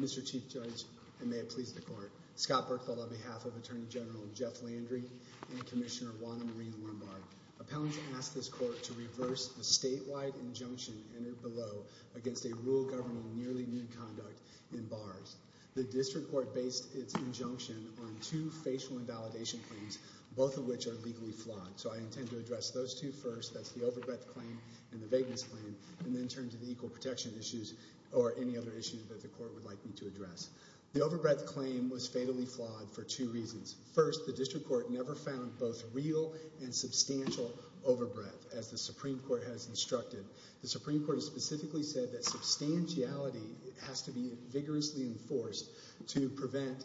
Mr. Chief Judge, and may it please the Court, Scott Berkfield on behalf of Attorney General Jeff Landry and Commissioner Juana Marine-Lombard. Appellants asked this Court to reverse the statewide injunction entered below against a rule governing nearly nude conduct in bars. The District Court based its injunction on two facial invalidation claims, both of which are legally flawed. So I intend to address those two first, that's the overbreath claim and the vagueness claim, and then turn to the equal protection issues or any other issues that the Court would like me to address. The overbreath claim was fatally flawed for two reasons. First, the District Court never found both real and substantial overbreath, as the Supreme Court has instructed. The Supreme Court has specifically said that substantiality has to be vigorously enforced to prevent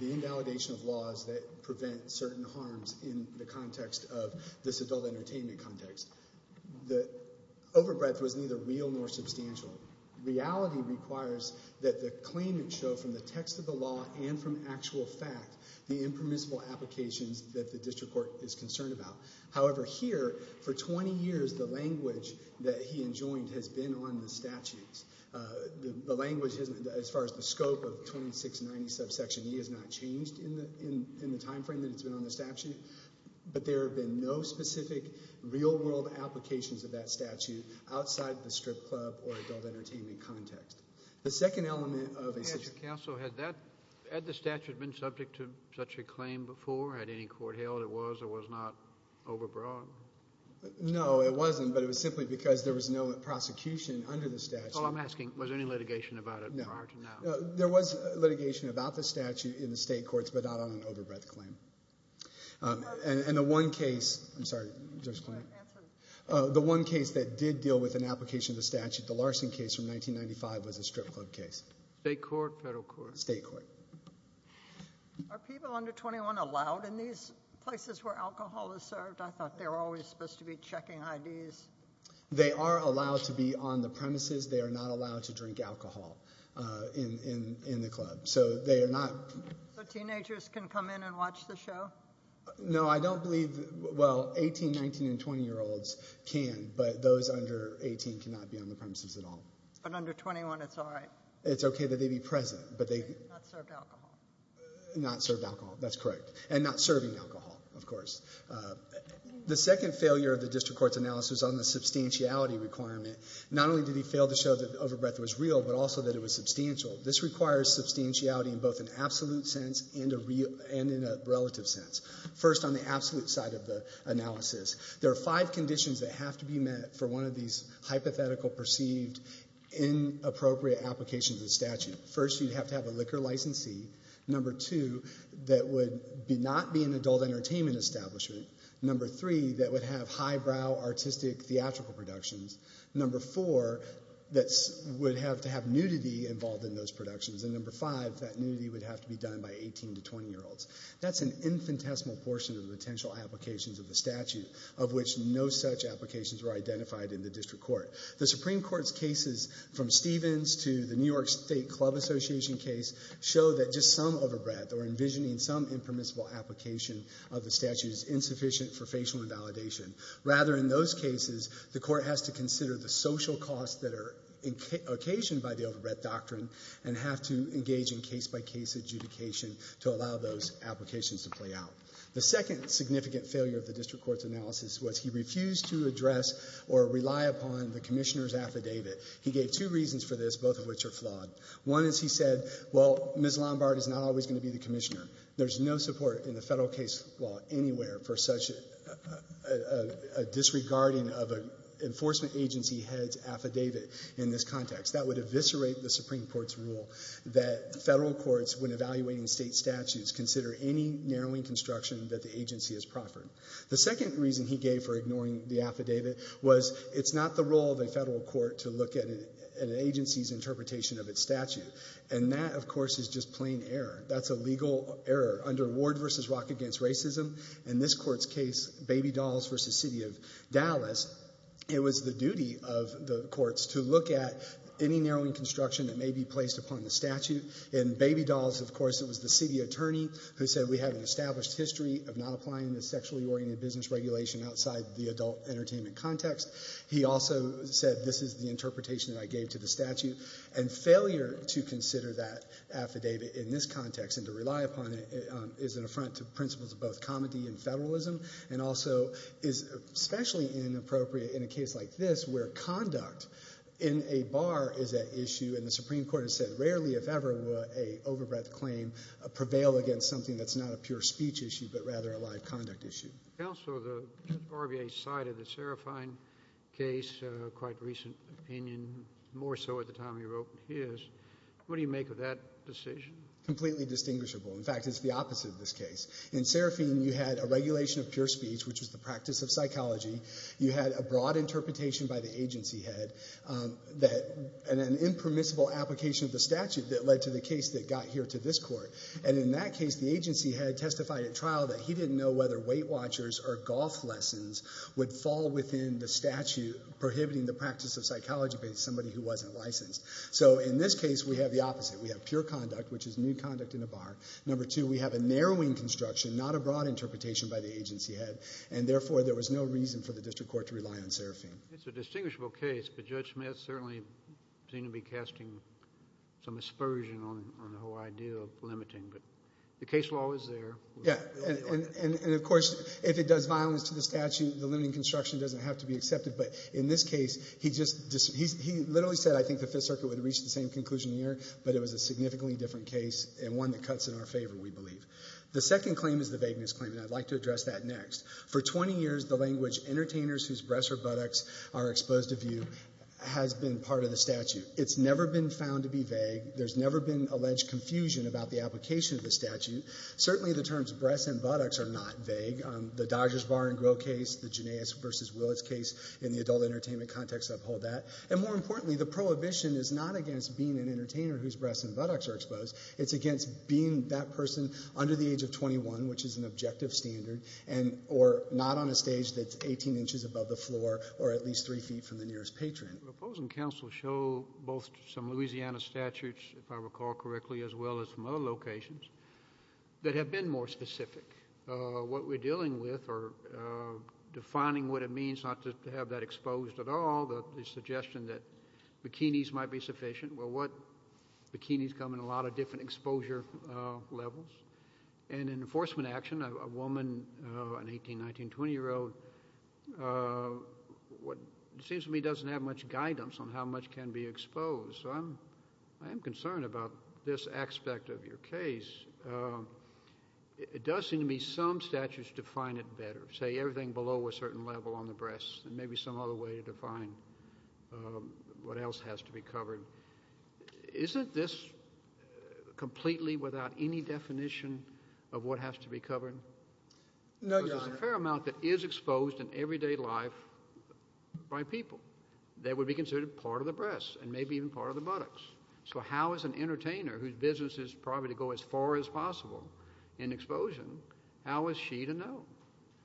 the invalidation of laws that prevent certain harms in the context of this adult entertainment context. The overbreath was neither real nor substantial. Reality requires that the claimant show from the text of the law and from actual fact the impermissible applications that the District Court is concerned about. However, here, for 20 years, the language that he enjoined has been on the statutes. The language, as far as the scope of 2690 subsection E, has not changed in the time frame that it's been on the statute, but there have been no specific real-world applications of that statute outside the strip club or adult entertainment context. The second element of... Counsel, had that, had the statute been subject to such a claim before, had any court held it was or was not overbroad? No, it wasn't, but it was simply because there was no prosecution under the statute. Oh, I'm asking, was there any litigation about it prior to now? No. There was litigation about the statute in the state courts, but not on an overbreath claim. And the one case... I'm sorry, Judge Kline. Go ahead. Answer the question. The one case that did deal with an application of the statute, the Larson case from 1995, was a strip club case. State court, federal court? State court. Are people under 21 allowed in these places where alcohol is served? I thought they were always supposed to be checking IDs. They are allowed to be on the premises. They are not allowed to drink alcohol in the club. So they are not... So teenagers can come in and watch the show? No, I don't believe, well, 18, 19, and 20-year-olds can, but those under 18 cannot be on the premises at all. But under 21, it's all right? It's okay that they be present, but they... Not served alcohol. Not served alcohol. That's correct. And not serving alcohol, of course. The second failure of the district court's analysis on the substantiality requirement, not only did he fail to show that the overbreath was real, but also that it was substantial. This requires substantiality in both an absolute sense and in a relative sense. First on the absolute side of the analysis, there are five conditions that have to be for one of these hypothetical, perceived, inappropriate applications of the statute. First you'd have to have a liquor licensee. Number two, that would not be an adult entertainment establishment. Number three, that would have highbrow artistic theatrical productions. Number four, that would have to have nudity involved in those productions. And number five, that nudity would have to be done by 18 to 20-year-olds. That's an infinitesimal portion of the potential applications of the statute, of which no such applications were identified in the district court. The Supreme Court's cases from Stevens to the New York State Club Association case show that just some overbreath or envisioning some impermissible application of the statute is insufficient for facial invalidation. Rather in those cases, the court has to consider the social costs that are occasioned by the overbreath doctrine and have to engage in case-by-case adjudication to allow those applications to play out. The second significant failure of the district court's analysis was he refused to address or rely upon the commissioner's affidavit. He gave two reasons for this, both of which are flawed. One is he said, well, Ms. Lombard is not always going to be the commissioner. There's no support in the federal case law anywhere for such a disregarding of an enforcement agency head's affidavit in this context. That would eviscerate the Supreme Court's rule that federal courts, when evaluating state statutes, consider any narrowing construction that the agency has proffered. The second reason he gave for ignoring the affidavit was it's not the role of a federal court to look at an agency's interpretation of its statute. And that, of course, is just plain error. That's a legal error. Under Ward v. Rock v. Racism, in this court's case, Baby Dolls v. City of Dallas, it was the duty of the courts to look at any narrowing construction that may be placed upon the statute. In Baby Dolls, of course, it was the city attorney who said, we have an established history of not applying the sexually oriented business regulation outside the adult entertainment context. He also said, this is the interpretation that I gave to the statute. And failure to consider that affidavit in this context and to rely upon it is an affront to principles of both comedy and federalism and also is especially inappropriate in a case like this where conduct in a bar is at issue, and the Supreme Court has said, rarely if ever would an overbred claim prevail against something that's not a pure speech issue but rather a live conduct issue. Counselor, the RVA side of the Serafine case, a quite recent opinion, more so at the time you wrote in his, what do you make of that decision? Completely distinguishable. In fact, it's the opposite of this case. In Serafine, you had a regulation of pure speech, which was the practice of psychology. You had a broad interpretation by the agency head that an impermissible application of the statute that led to the case that got here to this court. And in that case, the agency head testified at trial that he didn't know whether weight watchers or golf lessons would fall within the statute prohibiting the practice of psychology by somebody who wasn't licensed. So in this case, we have the opposite. We have pure conduct, which is new conduct in a bar. Number two, we have a narrowing construction, not a broad interpretation by the agency head. And therefore, there was no reason for the district court to rely on Serafine. It's a distinguishable case, but Judge Smith certainly seemed to be casting some aspersion on the whole idea of limiting. But the case law is there. Yeah, and of course, if it does violence to the statute, the limiting construction doesn't have to be accepted. But in this case, he literally said, I think the Fifth Circuit would have reached the same conclusion here, but it was a significantly different case and one that cuts in our favor, we believe. The second claim is the vagueness claim, and I'd like to address that next. For 20 years, the language entertainers whose breasts or buttocks are exposed to view has been part of the statute. It's never been found to be vague. There's never been alleged confusion about the application of the statute. Certainly the terms breasts and buttocks are not vague. The Dodgers bar and grill case, the Janais versus Willis case in the adult entertainment context uphold that. And more importantly, the prohibition is not against being an entertainer whose breasts and buttocks are exposed. It's against being that person under the age of 21, which is an objective standard, and or not on a stage that's 18 inches above the floor or at least three feet from the nearest patron. The opposing counsel show both some Louisiana statutes, if I recall correctly, as well as from other locations that have been more specific. What we're dealing with or defining what it means not to have that exposed at all, the suggestion that bikinis might be sufficient, well, what, bikinis come in a lot of different exposure levels. And in enforcement action, a woman, an 18, 19, 20-year-old, what seems to me doesn't have much guidance on how much can be exposed, so I'm concerned about this aspect of your case. It does seem to me some statutes define it better, say everything below a certain level on the breasts and maybe some other way to define what else has to be covered. Isn't this completely without any definition of what has to be covered? No, Your Honor. Because there's a fair amount that is exposed in everyday life by people that would be considered part of the breasts and maybe even part of the buttocks. So how is an entertainer whose business is probably to go as far as possible in exposure, how is she to know?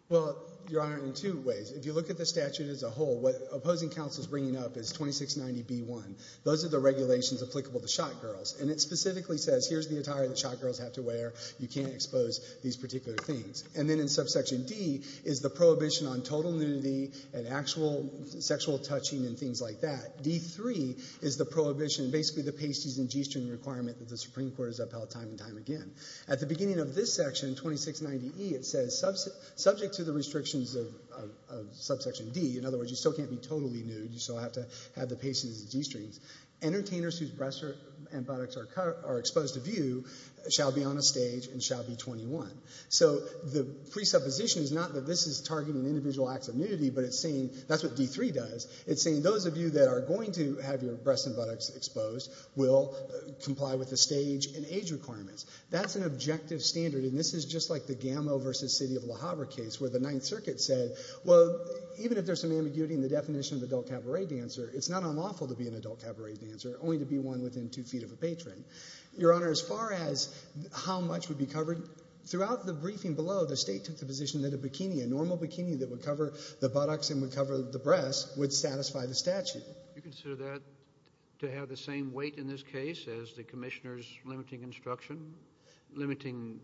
Well, Your Honor, in two ways. If you look at the statute as a whole, what opposing counsel is bringing up is 2690B1. Those are the regulations applicable to shot girls, and it specifically says here's the attire that shot girls have to wear, you can't expose these particular things. And then in subsection D is the prohibition on total nudity and actual sexual touching and things like that. D3 is the prohibition, basically the pasties and g-string requirement that the Supreme Court has upheld time and time again. At the beginning of this section, 2690E, it says, subject to the restrictions of subsection D, in other words, you still can't be totally nude, you still have to have the pasties and g-strings, entertainers whose breasts and buttocks are exposed to view shall be on a stage and shall be 21. So the presupposition is not that this is targeting individual acts of nudity, but it's saying, that's what D3 does, it's saying those of you that are going to have your breasts and buttocks exposed will comply with the stage and age requirements. That's an objective standard, and this is just like the Gamow v. City of Le Havre case where the Ninth Circuit said, well, even if there's some ambiguity in the definition of adult cabaret dancer, it's not unlawful to be an adult cabaret dancer, only to be one within two feet of a patron. Your Honor, as far as how much would be covered, throughout the briefing below, the State took the position that a bikini, a normal bikini that would cover the buttocks and would cover the breasts would satisfy the statute. Do you consider that to have the same weight in this case as the Commissioner's limiting instruction, limiting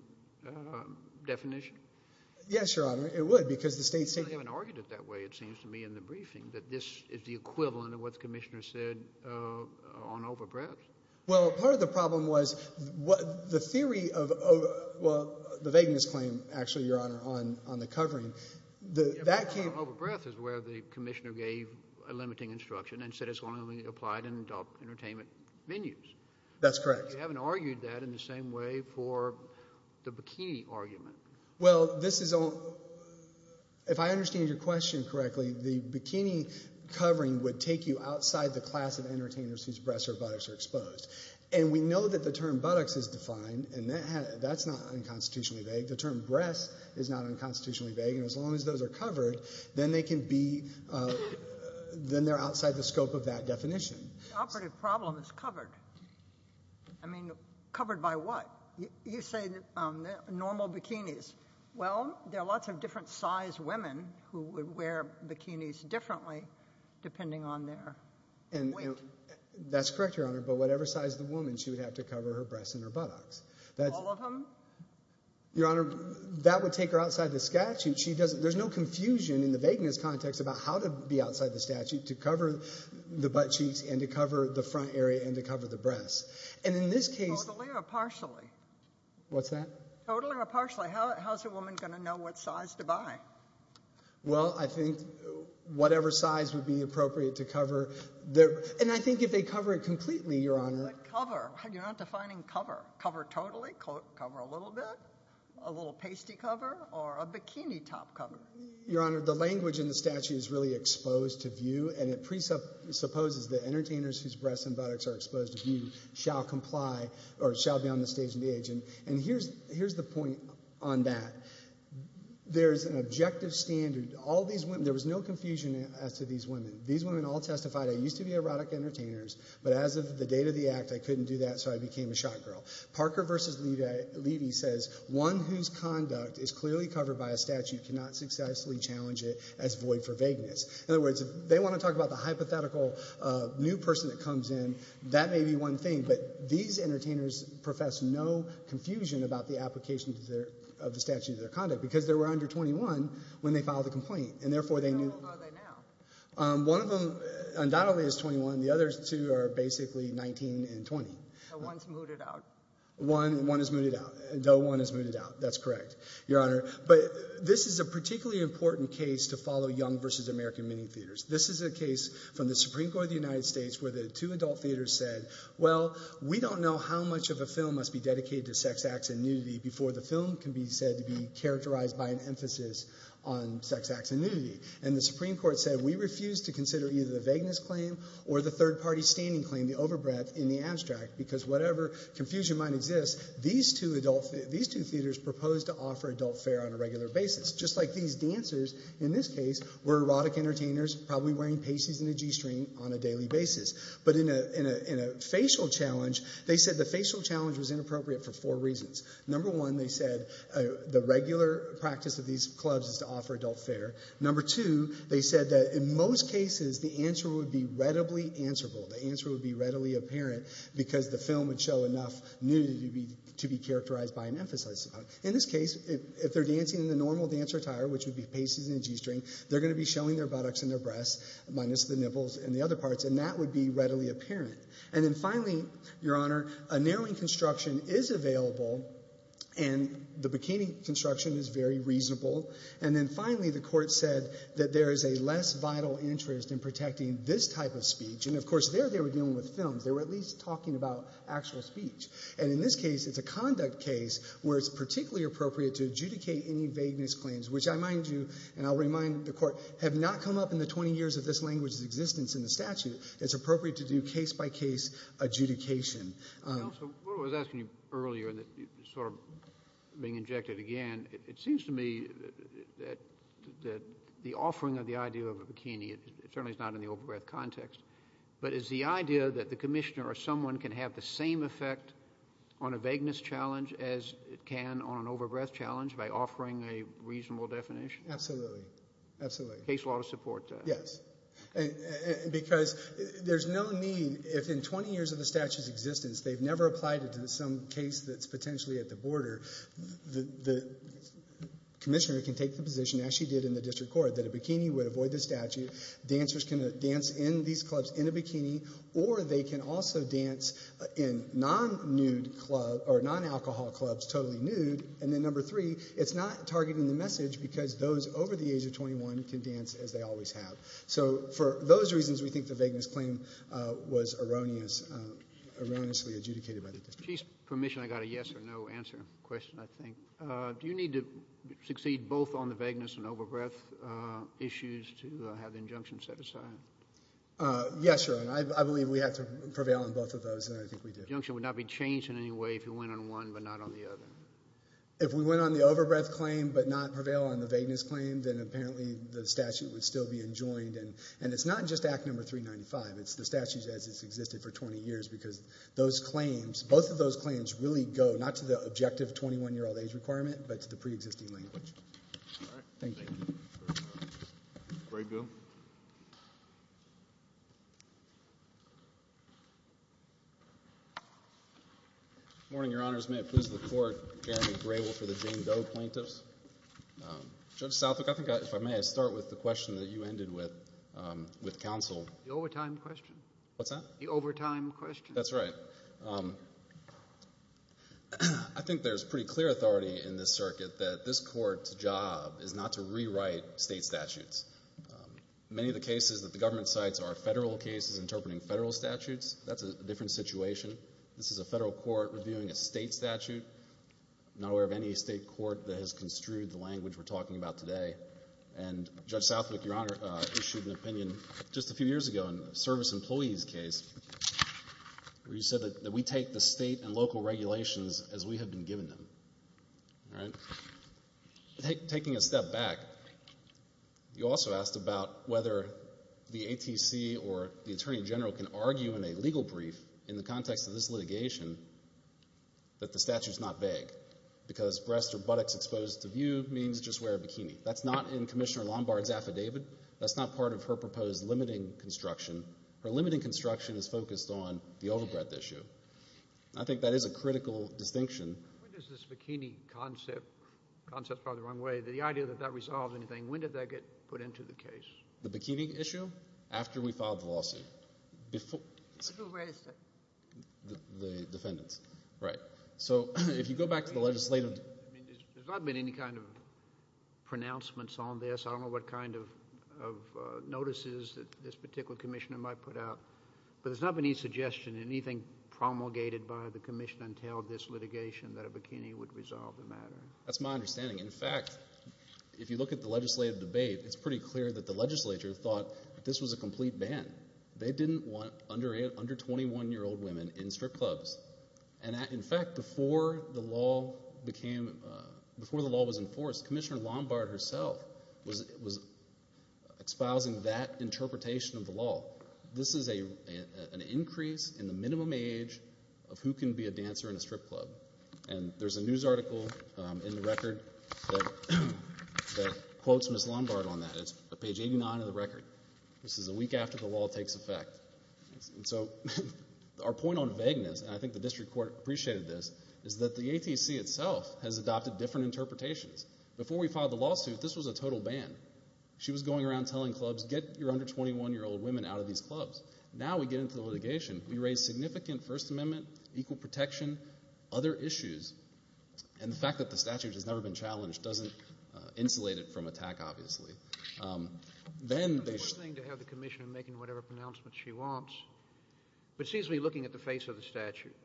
definition? Yes, Your Honor, it would, because the State's taking... I haven't argued it that way, it seems to me, in the briefing, that this is the equivalent of what the Commissioner said on over-breasts. Well, part of the problem was the theory of, well, the vagueness claim, actually, Your Honor, on the covering, that came... and said it's only applied in adult entertainment venues. That's correct. You haven't argued that in the same way for the bikini argument. Well, this is... If I understand your question correctly, the bikini covering would take you outside the class of entertainers whose breasts or buttocks are exposed. And we know that the term buttocks is defined, and that's not unconstitutionally vague. The term breasts is not unconstitutionally vague, and as long as those are covered, then they can be... then they're outside the scope of that definition. The operative problem is covered. I mean, covered by what? You say normal bikinis. Well, there are lots of different size women who would wear bikinis differently, depending on their weight. That's correct, Your Honor, but whatever size the woman, she would have to cover her breasts and her buttocks. All of them? Your Honor, that would take her outside the statute. There's no confusion in the vagueness context about how to be outside the statute to cover the butt cheeks and to cover the front area and to cover the breasts. And in this case... Totally or partially? What's that? Totally or partially. How's a woman going to know what size to buy? Well, I think whatever size would be appropriate to cover. And I think if they cover it completely, Your Honor... Cover? You're not defining cover. Cover totally? Cover a little bit? A little pasty cover or a bikini top cover? Your Honor, the language in the statute is really exposed to view, and it presupposes that entertainers whose breasts and buttocks are exposed to view shall comply or shall be on the stage and be aged. And here's the point on that. There's an objective standard. All these women... There was no confusion as to these women. These women all testified, I used to be erotic entertainers, but as of the date of the act, I couldn't do that, so I became a shot girl. Parker v. Levy says, one whose conduct is clearly covered by a statute cannot successfully challenge it as void for vagueness. In other words, if they want to talk about the hypothetical new person that comes in, that may be one thing, but these entertainers profess no confusion about the application of the statute of their conduct because they were under 21 when they filed the complaint, and therefore they knew... How old are they now? One of them undoubtedly is 21. The other two are basically 19 and 20. No one's mooted out. One is mooted out. No one is mooted out. That's correct, Your Honor. But this is a particularly important case to follow Young v. American Mini Theatres. This is a case from the Supreme Court of the United States where the two adult theaters said, well, we don't know how much of a film must be dedicated to sex acts and nudity before the film can be said to be characterized by an emphasis on sex acts and nudity. And the Supreme Court said, we refuse to consider either the vagueness claim or the third party standing claim, the over-breath in the abstract, because whatever confusion might exist, these two theaters proposed to offer adult fare on a regular basis, just like these dancers in this case were erotic entertainers probably wearing Pacys and a G-string on a daily basis. But in a facial challenge, they said the facial challenge was inappropriate for four reasons. Number one, they said the regular practice of these clubs is to offer adult fare. Number two, they said that in most cases, the answer would be readily answerable. The answer would be readily apparent because the film would show enough nudity to be characterized by an emphasis. In this case, if they're dancing in the normal dancer attire, which would be Pacys and a G-string, they're going to be showing their buttocks and their breasts, minus the nipples and the other parts, and that would be readily apparent. And then finally, Your Honor, a narrowing construction is available, and the bikini construction is very reasonable. And then finally, the Court said that there is a less vital interest in protecting this type of speech. And of course, there they were dealing with films. They were at least talking about actual speech. And in this case, it's a conduct case where it's particularly appropriate to adjudicate any vagueness claims, which I mind you, and I'll remind the Court, have not come up in the 20 years of this language's existence in the statute. It's appropriate to do case-by-case adjudication. I also was asking you earlier, sort of being injected again, it seems to me that the offering of the idea of a bikini, it certainly is not in the over-breath context, but is the idea that the commissioner or someone can have the same effect on a vagueness challenge as it can on an over-breath challenge by offering a reasonable definition? Absolutely. Absolutely. Case law to support that. Yes. Because there's no need, if in 20 years of the statute's existence they've never applied it to some case that's potentially at the border, the commissioner can take the position, as she did in the District Court, that a bikini would avoid the statute. Dancers can dance in these clubs in a bikini, or they can also dance in non-alcohol clubs totally nude. And then number three, it's not targeting the message because those over the age of 21 can dance as they always have. So for those reasons, we think the vagueness claim was erroneously adjudicated by the district. Chief's permission, I got a yes or no answer question, I think. Do you need to succeed both on the vagueness and over-breath issues to have the injunction set aside? Yes, Your Honor. I believe we have to prevail on both of those, and I think we did. The injunction would not be changed in any way if you went on one but not on the other. If we went on the over-breath claim but not prevail on the vagueness claim, then apparently the statute would still be enjoined. And it's not just Act Number 395, it's the statute as it's existed for 20 years, because those claims, both of those claims really go not to the objective 21-year-old age requirement, but to the pre-existing language. All right. Thank you. Gray Bill. Good morning, Your Honors. May it please the Court, Jeremy Grable for the Jane Doe Plaintiffs. Judge Southwick, I think if I may, I'll start with the question that you ended with, with counsel. The overtime question. What's that? The overtime question. That's right. I think there's pretty clear authority in this circuit that this court's job is not to rewrite state statutes. Many of the cases that the government cites are federal cases interpreting federal statutes. That's a different situation. This is a federal court reviewing a state statute. I'm not aware of any state court that has construed the language we're talking about today. And Judge Southwick, Your Honor, issued an opinion just a few years ago in a service employee's case, where you said that we take the state and local regulations as we have been given them, all right? Taking a step back, you also asked about whether the ATC or the Attorney General can argue in a legal brief, in the context of this litigation, that the statute's not vague. Because breasts or buttocks exposed to view means just wear a bikini. That's not in Commissioner Lombard's affidavit. That's not part of her proposed limiting construction. Her limiting construction is focused on the overbreadth issue. I think that is a critical distinction. When does this bikini concept, concept's probably the wrong way, the idea that that resolves anything, when did that get put into the case? The bikini issue? After we filed the lawsuit. Before we raised it. The defendants. Right. So, if you go back to the legislative. I mean, there's not been any kind of pronouncements on this. I don't know what kind of notices that this particular commissioner might put out. But there's not been any suggestion, anything promulgated by the commission until this litigation that a bikini would resolve the matter. That's my understanding. In fact, if you look at the legislative debate, it's pretty clear that the legislature thought this was a complete ban. They didn't want under 21 year old women in strip clubs. And in fact, before the law became, before the law was enforced, Commissioner Lombard herself was espousing that interpretation of the law. This is an increase in the minimum age of who can be a dancer in a strip club. And there's a news article in the record that quotes Ms. Lombard on that. It's page 89 of the record. This is a week after the law takes effect. So, our point on vagueness, and I think the district court appreciated this, is that the ATC itself has adopted different interpretations. Before we filed the lawsuit, this was a total ban. She was going around telling clubs, get your under 21 year old women out of these clubs. Now we get into the litigation. We raise significant First Amendment, equal protection, other issues. And the fact that the statute has never been challenged doesn't insulate it from attack, obviously. Then they- It's a good thing to have the commissioner making whatever pronouncements she wants. But seriously, looking at the face of the statute,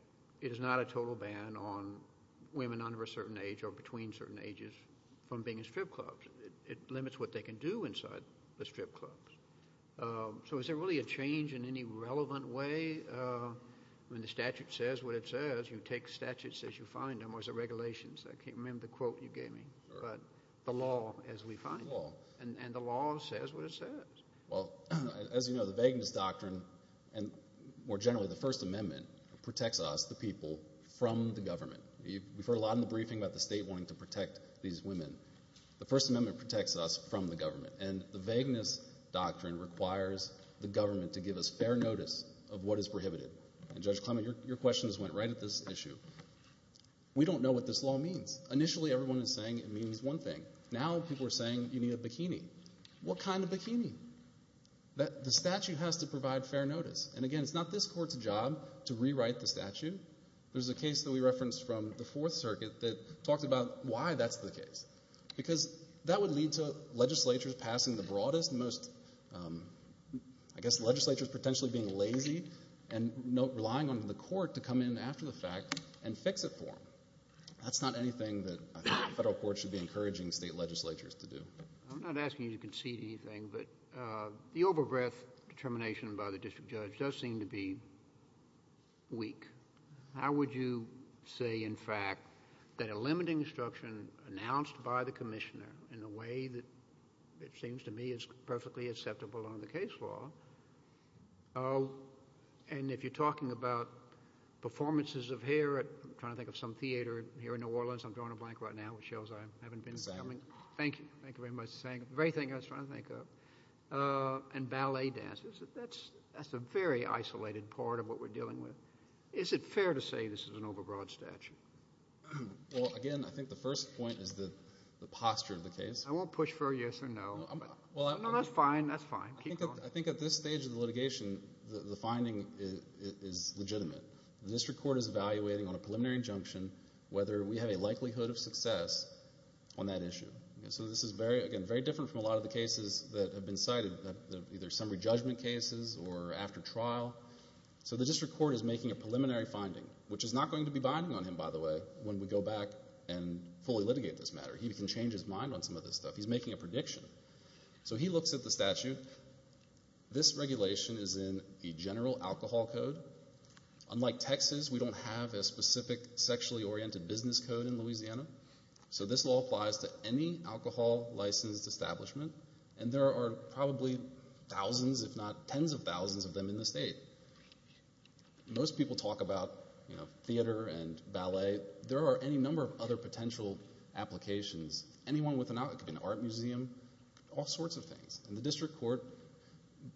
it is not a total ban on women under a certain age or between certain ages from being in strip clubs. It limits what they can do inside the strip clubs. So, is there really a change in any relevant way when the statute says what it says? You take statutes as you find them, or is it regulations? I can't remember the quote you gave me, but the law as we find it. And the law says what it says. Well, as you know, the vagueness doctrine, and more generally the First Amendment, protects us, the people, from the government. We've heard a lot in the briefing about the state wanting to protect these women. The First Amendment protects us from the government. And the vagueness doctrine requires the government to give us fair notice of what is prohibited. And Judge Clement, your question just went right at this issue. We don't know what this law means. Initially, everyone was saying it means one thing. Now, people are saying you need a bikini. What kind of bikini? The statute has to provide fair notice. And again, it's not this court's job to rewrite the statute. There's a case that we referenced from the Fourth Circuit that talked about why that's the case. Because that would lead to legislatures passing the broadest, most, I guess, legislatures potentially being lazy and relying on the court to come in after the fact and fix it for them. That's not anything that I think the federal court should be encouraging state legislatures to do. I'm not asking you to concede anything, but the over-breath determination by the district judge does seem to be weak. How would you say, in fact, that a limiting instruction announced by the commissioner in a way that it seems to me is perfectly acceptable on the case law. And if you're talking about performances of hair at, I'm trying to think of some theater here in New Orleans. I'm drawing a blank right now with shows I haven't been examining. Thank you. Thank you very much for saying the very thing I was trying to think of. And ballet dances. That's a very isolated part of what we're dealing with. Is it fair to say this is an over-broad statute? Well, again, I think the first point is the posture of the case. I won't push for a yes or no. No, that's fine. That's fine. Keep going. I think at this stage of the litigation, the finding is legitimate. The district court is evaluating on a preliminary injunction whether we have a likelihood of success on that issue. So this is very, again, very different from a lot of the cases that have been cited, either summary judgment cases or after trial. So the district court is making a preliminary finding, which is not going to be binding on him, by the way, when we go back and fully litigate this matter. He can change his mind on some of this stuff. He's making a prediction. So he looks at the statute. Again, this regulation is in the general alcohol code. Unlike Texas, we don't have a specific sexually oriented business code in Louisiana. So this law applies to any alcohol licensed establishment. And there are probably thousands, if not tens of thousands of them in the state. Most people talk about theater and ballet. There are any number of other potential applications. Anyone with an art museum, all sorts of things. And the district court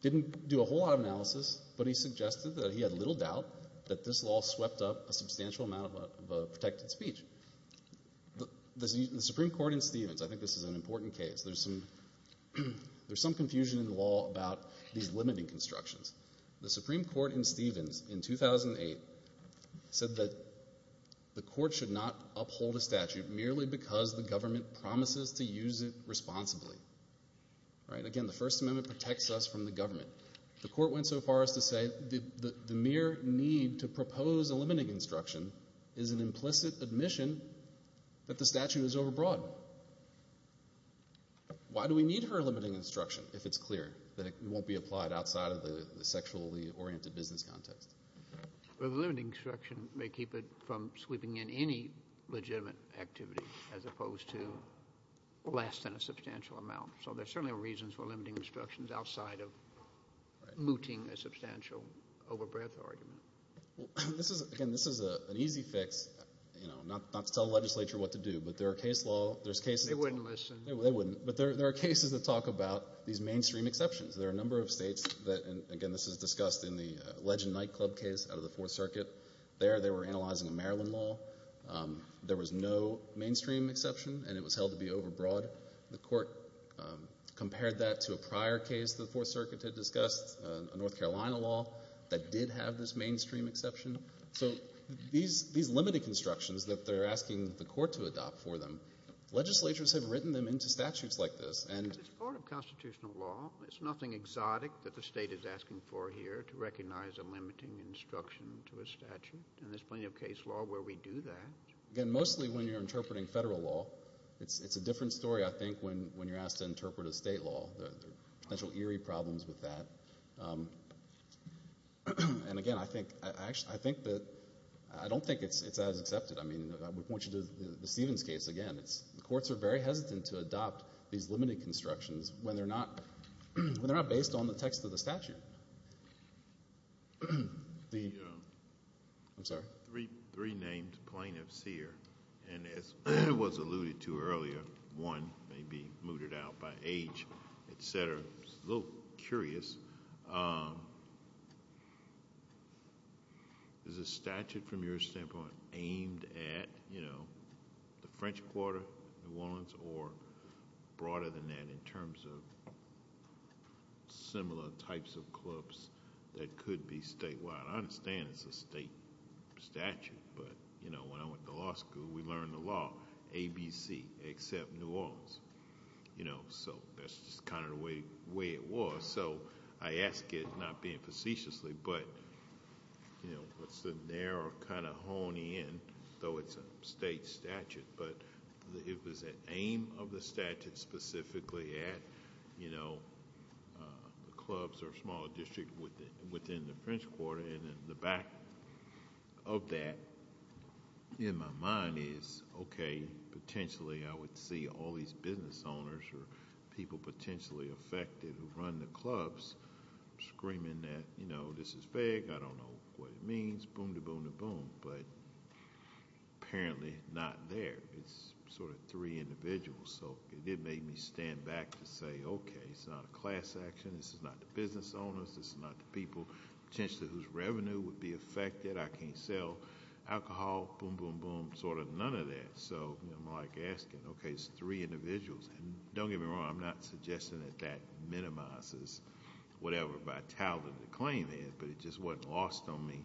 didn't do a whole lot of analysis, but he suggested that he had little doubt that this law swept up a substantial amount of a protected speech. The Supreme Court in Stevens, I think this is an important case, there's some confusion in the law about these limiting constructions. The Supreme Court in Stevens in 2008 said that the court should not uphold a statute merely because the government promises to use it responsibly. Again, the First Amendment protects us from the government. The court went so far as to say the mere need to propose a limiting instruction is an implicit admission that the statute is overbroad. Why do we need her limiting instruction if it's clear that it won't be applied outside of the sexually oriented business context? Well, the limiting instruction may keep it from sweeping in any legitimate activity as opposed to less than a substantial amount. So there's certainly a reason for limiting instructions outside of mooting a substantial overbreadth argument. This is, again, this is an easy fix, you know, not to tell the legislature what to do, but there are case law, there's cases- They wouldn't listen. They wouldn't. But there are cases that talk about these mainstream exceptions. There are a number of states that, and again, this is discussed in the Legend Nightclub case out of the Fourth Circuit. There, they were analyzing a Maryland law. There was no mainstream exception, and it was held to be overbroad. The court compared that to a prior case the Fourth Circuit had discussed, a North Carolina law, that did have this mainstream exception. So these limited constructions that they're asking the court to adopt for them, legislatures have written them into statutes like this. It's part of constitutional law. There's nothing exotic that the state is asking for here to recognize a limiting instruction to a statute, and there's plenty of case law where we do that. Again, mostly when you're interpreting federal law. It's a different story, I think, when you're asked to interpret a state law. There are potential eerie problems with that, and again, I think that, I don't think it's as accepted. I mean, I would point you to the Stevens case. Again, the courts are very hesitant to adopt these limited constructions when they're not based on the text of the statute. I'm sorry? Three named plaintiffs here, and as was alluded to earlier, one may be mooted out by age, et cetera. I'm a little curious. Is the statute, from your standpoint, aimed at the French Quarter, New Orleans, or broader than that in terms of similar types of clubs that could be statewide? I understand it's a state statute, but when I went to law school, we learned the law. ABC, accept New Orleans. So that's just kind of the way it was. Also, I ask it, not being facetiously, but what's the narrow kind of honey in, though it's a state statute, but it was an aim of the statute specifically at clubs or small district within the French Quarter, and in the back of that, in my mind is, okay, potentially I would see all these business owners or people potentially affected who run the clubs, screaming that this is vague, I don't know what it means, boom-da-boom-da-boom, but apparently not there. It's sort of three individuals, so it did make me stand back to say, okay, it's not a class action, this is not the business owners, this is not the people potentially whose revenue would be affected. I can't sell alcohol, boom, boom, boom, sort of none of that. So I'm like asking, okay, it's three individuals. Don't get me wrong, I'm not suggesting that that minimizes whatever vitality the claim is, but it just wasn't lost on me.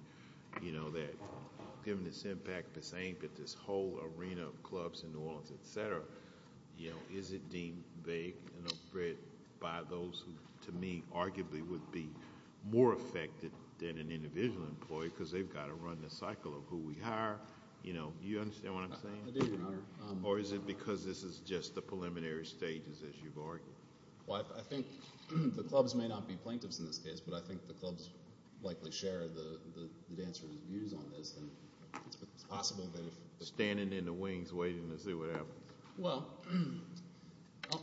That given this impact, this ain't that this whole arena of clubs in New Orleans, etc. Is it deemed vague and afraid by those who, to me, arguably would be more affected than an individual employee, because they've got to run the cycle of who we hire. You understand what I'm saying? I do, Your Honor. Or is it because this is just the preliminary stages, as you've argued? Well, I think the clubs may not be plaintiffs in this case, but I think the clubs likely share the dancers' views on this, and it's possible that if- Standing in the wings, waiting to see what happens. Well,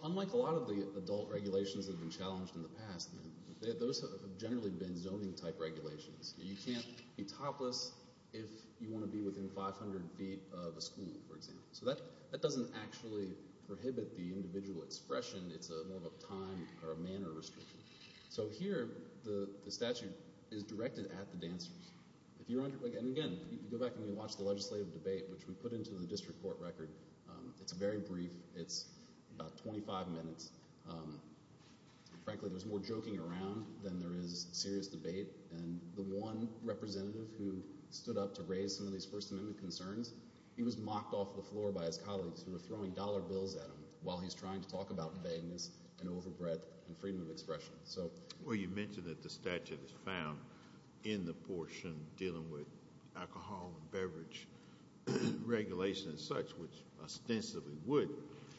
unlike a lot of the adult regulations that have been challenged in the past, those have generally been zoning-type regulations. You can't be topless if you want to be within 500 feet of a school, for example. So that doesn't actually prohibit the individual expression. It's more of a time or a manner restriction. So here, the statute is directed at the dancers. If you run, and again, you go back and you watch the legislative debate, which we put into the district court record. It's very brief. It's about 25 minutes. Frankly, there's more joking around than there is serious debate. And the one representative who stood up to raise some of these First Amendment concerns, he was mocked off the floor by his colleagues who were throwing dollar bills at him while he's trying to talk about vagueness and overbreadth and freedom of expression. So- Well, you mentioned that the statute is found in the portion dealing with alcohol and beverage regulations and such, which ostensibly would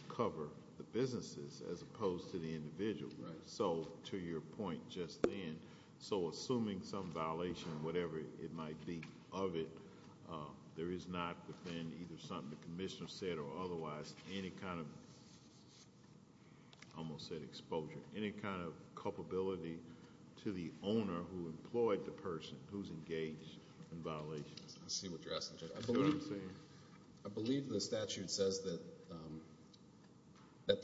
cover the businesses as opposed to the individual. Right. So, to your point just then, so assuming some violation, whatever it might be of it, there is not within either something the commissioner said or otherwise any kind of, almost said exposure, any kind of culpability to the owner who employed the person who's engaged in violations. I see what you're asking, Judge. You know what I'm saying? I believe the statute says that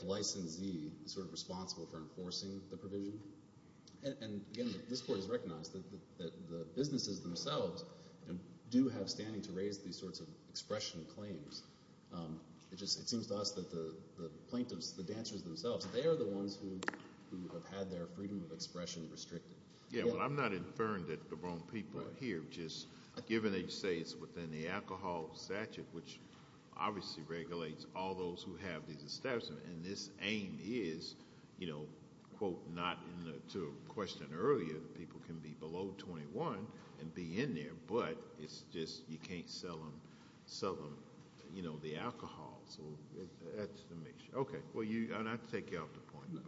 the licensee is sort of responsible for enforcing the provision. And again, this court has recognized that the businesses themselves do have standing to raise these sorts of expression claims. It just seems to us that the plaintiffs, the dancers themselves, they are the ones who have had their freedom of expression restricted. Yeah, well I'm not inferring that the wrong people are here, just given they say it's within the alcohol statute, which obviously regulates all those who have these establishments. And this aim is, quote, not to a question earlier, people can be below 21 and be in there, but it's just you can't sell them the alcohol. So that's the mission. Okay, well you, and I take you off the point, but.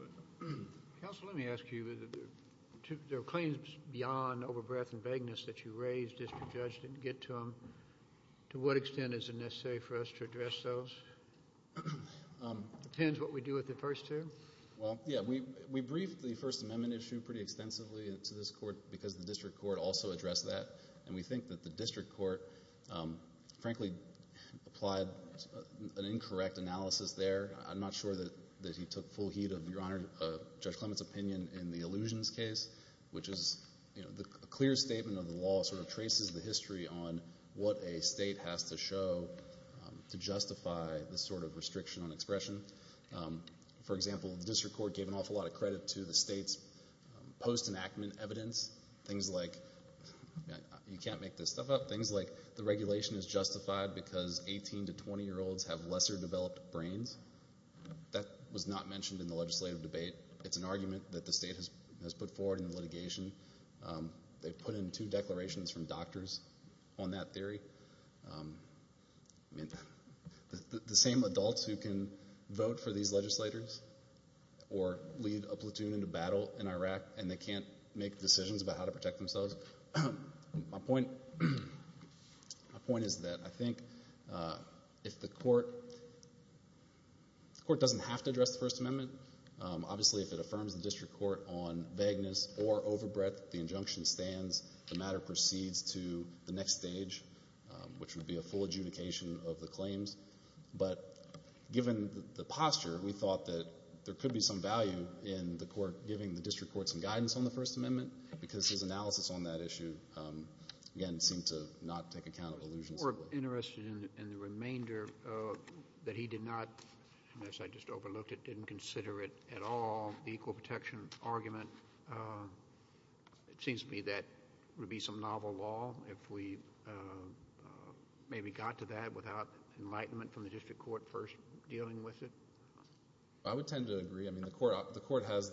Counsel, let me ask you, there are claims beyond over-breath and vagueness that you raised, if the judge didn't get to them, to what extent is it necessary for us to address those? It depends what we do with the first two? Well, yeah, we briefed the First Amendment issue pretty extensively to this court because the district court also addressed that. And we think that the district court, frankly, applied an incorrect analysis there. I'm not sure that he took full heed of your Honor, Judge Clement's opinion in the illusions case, which is a clear statement of the law sort of traces the history on what a state has to show to justify this sort of restriction on expression. For example, the district court gave an awful lot of credit to the state's post-enactment evidence, things like, you can't make this stuff up, things like the regulation is justified because 18 to 20-year-olds have lesser-developed brains. That was not mentioned in the legislative debate. It's an argument that the state has put forward in the litigation. They've put in two declarations from doctors on that theory. I mean, the same adults who can vote for these legislators or lead a platoon into battle in Iraq and they can't make decisions about how to protect themselves. So my point is that I think if the court, the court doesn't have to address the First Amendment. Obviously, if it affirms the district court on vagueness or overbreadth, the injunction stands, the matter proceeds to the next stage, which would be a full adjudication of the claims. But given the posture, we thought that there could be some value in the court giving the district court some guidance on the First Amendment because his analysis on that issue, again, seemed to not take account of illusions. We're interested in the remainder that he did not, unless I just overlooked it, didn't consider it at all, the equal protection argument. It seems to me that would be some novel law if we maybe got to that without enlightenment from the district court first dealing with it. I would tend to agree. I mean, the court has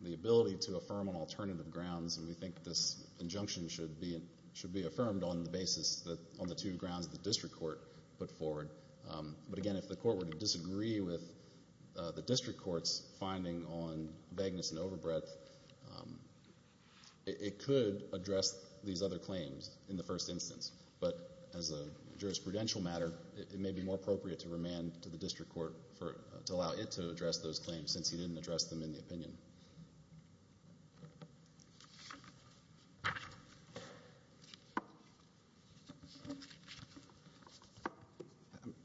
the ability to affirm on alternative grounds and we think this injunction should be affirmed on the basis that on the two grounds the district court put forward. But again, if the court were to disagree with the district court's finding on vagueness and overbreadth, it could address these other claims in the first instance. But as a jurisprudential matter, it may be more appropriate to remand to the district court to allow it to address those claims since he didn't address them in the opinion.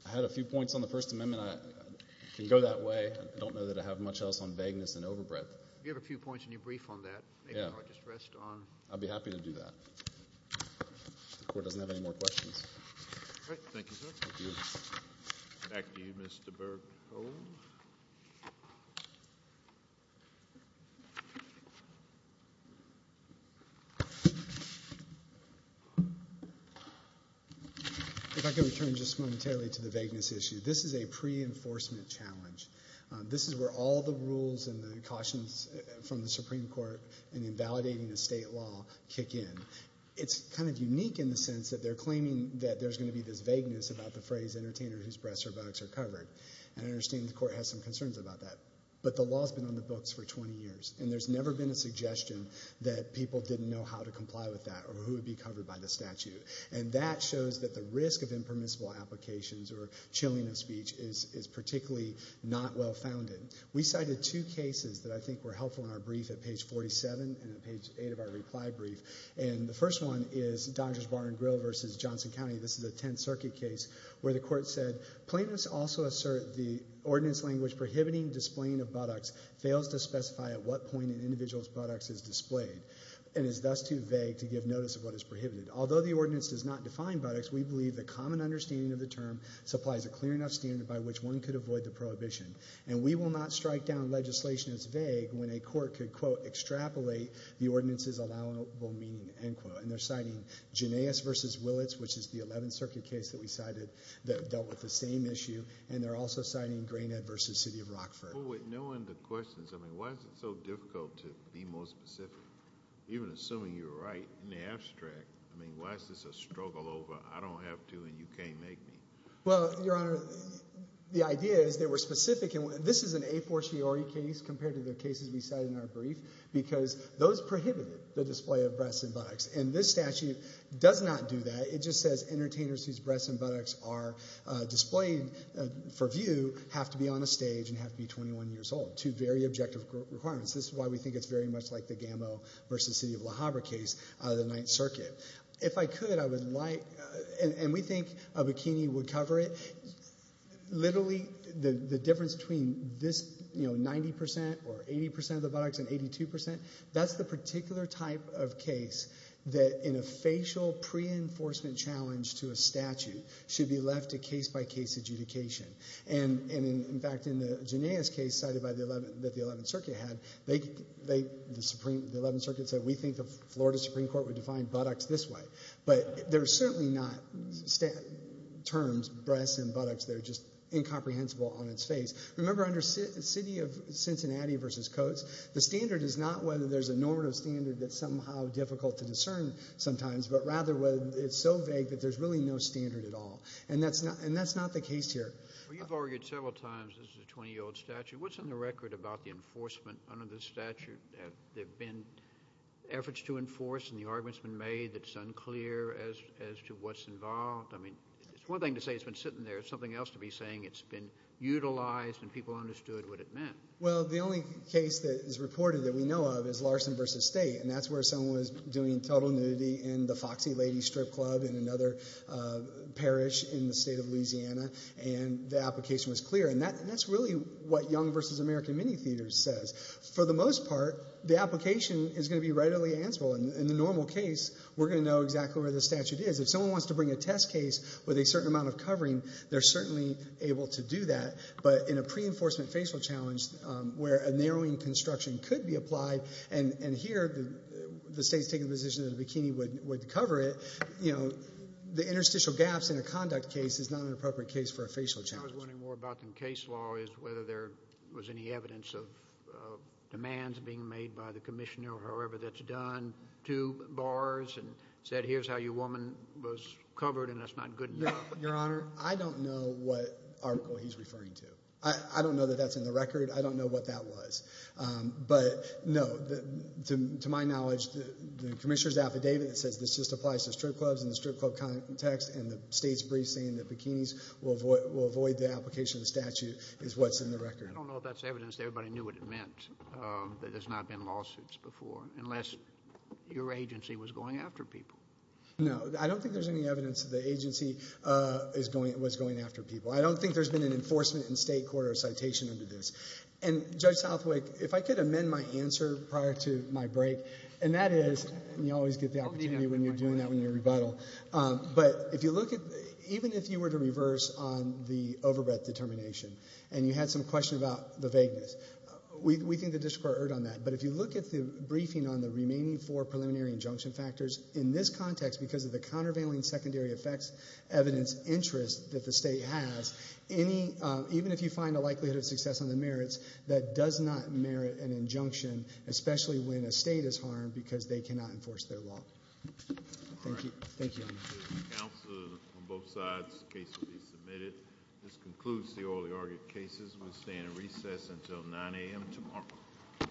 I had a few points on the First Amendment. I can go that way. I don't know that I have much else on vagueness and overbreadth. You have a few points in your brief on that. Yeah. Maybe I'll just rest on. I'd be happy to do that. The court doesn't have any more questions. All right. Thank you, sir. Thank you. Thank you, Mr. Berghoff. If I could return just momentarily to the vagueness issue. This is a pre-enforcement challenge. This is where all the rules and the cautions from the Supreme Court in invalidating the state law kick in. It's kind of unique in the sense that they're claiming that there's going to be this vagueness about the phrase entertainer whose breasts or buttocks are covered. And I understand the court has some concerns about that. But the law's been on the books for 20 years. And there's never been a suggestion that people didn't know how to comply with that or who would be covered by the statute. And that shows that the risk of impermissible applications or chilling of speech is particularly not well-founded. We cited two cases that I think were helpful in our brief at page 47 and at page 8 of our reply brief. And the first one is Dodgers Bar and Grill versus Johnson County. This is a Tenth Circuit case where the court said, plaintiffs also assert the ordinance language prohibiting displaying of buttocks fails to specify at what point an individual's buttocks is displayed and is thus too vague to give notice of what is prohibited. Although the ordinance does not define buttocks, we believe the common understanding of the term supplies a clear enough standard by which one could avoid the prohibition. And we will not strike down legislation as vague when a court could quote extrapolate the ordinance's allowable meaning, end quote. And they're citing Janius versus Willits, which is the Eleventh Circuit case that we cited that dealt with the same issue. And they're also citing Greenhead versus City of Rockford. Well, with knowing the questions, I mean, why is it so difficult to be more specific, even assuming you're right in the abstract? I mean, why is this a struggle over I don't have to and you can't make me? Well, Your Honor, the idea is they were specific. And this is an a fortiori case compared to the cases we cited in our brief because those prohibited the display of breasts and buttocks. And this statute does not do that. It just says entertainers whose breasts and buttocks are displayed for view have to be on a stage and have to be 21 years old, two very objective requirements. This is why we think it's very much like the Gambo versus City of Le Havre case out of the Ninth Circuit. If I could, I would like, and we think a bikini would cover it. Literally, the difference between this, you know, 90% or 80% of the buttocks and 82%, that's the particular type of case that in a facial pre-enforcement challenge to a statute should be left to case by case adjudication. And in fact, in the Genia's case cited by the 11th Circuit had, the 11th Circuit said, we think the Florida Supreme Court would define buttocks this way. But they're certainly not terms, breasts and buttocks. They're just incomprehensible on its face. Remember under City of Cincinnati versus Coates, the standard is not whether there's a normative standard that's somehow difficult to discern sometimes, but rather whether it's so vague that there's really no standard at all. And that's not the case here. Well, you've argued several times this is a 20-year-old statute. What's on the record about the enforcement under this statute? Have there been efforts to enforce and the arguments been made that's unclear as to what's involved? I mean, it's one thing to say it's been sitting there. It's something else to be saying it's been utilized and people understood what it meant. Well, the only case that is reported that we know of is Larson versus State. And that's where someone was doing total nudity in the Foxy Lady Strip Club in another parish in the state of Louisiana. And the application was clear. And that's really what Young versus American Mini Theaters says. For the most part, the application is going to be readily answerable. In the normal case, we're going to know exactly where the statute is. If someone wants to bring a test case with a certain amount of covering, they're certainly able to do that. But in a pre-enforcement facial challenge, where a narrowing construction could be applied, and here the state's taking the position that a bikini would cover it, the interstitial gaps in a conduct case is not an appropriate case for a facial challenge. I was wondering more about the case law is whether there was any evidence of demands being made by the commissioner or however that's done to bars and said, here's how your woman was covered, and that's not good enough. Your Honor, I don't know what article he's referring to. I don't know that that's in the record. I don't know what that was. But no, to my knowledge, the commissioner's affidavit says this just applies to strip clubs in the strip club context, and the state's brief saying that bikinis will avoid the application of the statute is what's in the record. I don't know if that's evidence that everybody knew what it meant that there's not been lawsuits before, unless your agency was going after people. No, I don't think there's any evidence that the agency was going after people. I don't think there's been an enforcement in state court or a citation under this. And Judge Southwick, if I could amend my answer prior to my break, and that is, and you always get the opportunity when you're doing that when you rebuttal, but if you look at, even if you were to reverse on the overbred determination and you had some question about the vagueness, we think the district court erred on that. But if you look at the briefing on the remaining four contexts because of the countervailing secondary effects, evidence, interest that the state has, even if you find a likelihood of success on the merits, that does not merit an injunction, especially when a state is harmed because they cannot enforce their law. Thank you. Counsel, on both sides, the case will be submitted. This concludes the orally argued cases. We stand in recess until 9 AM tomorrow.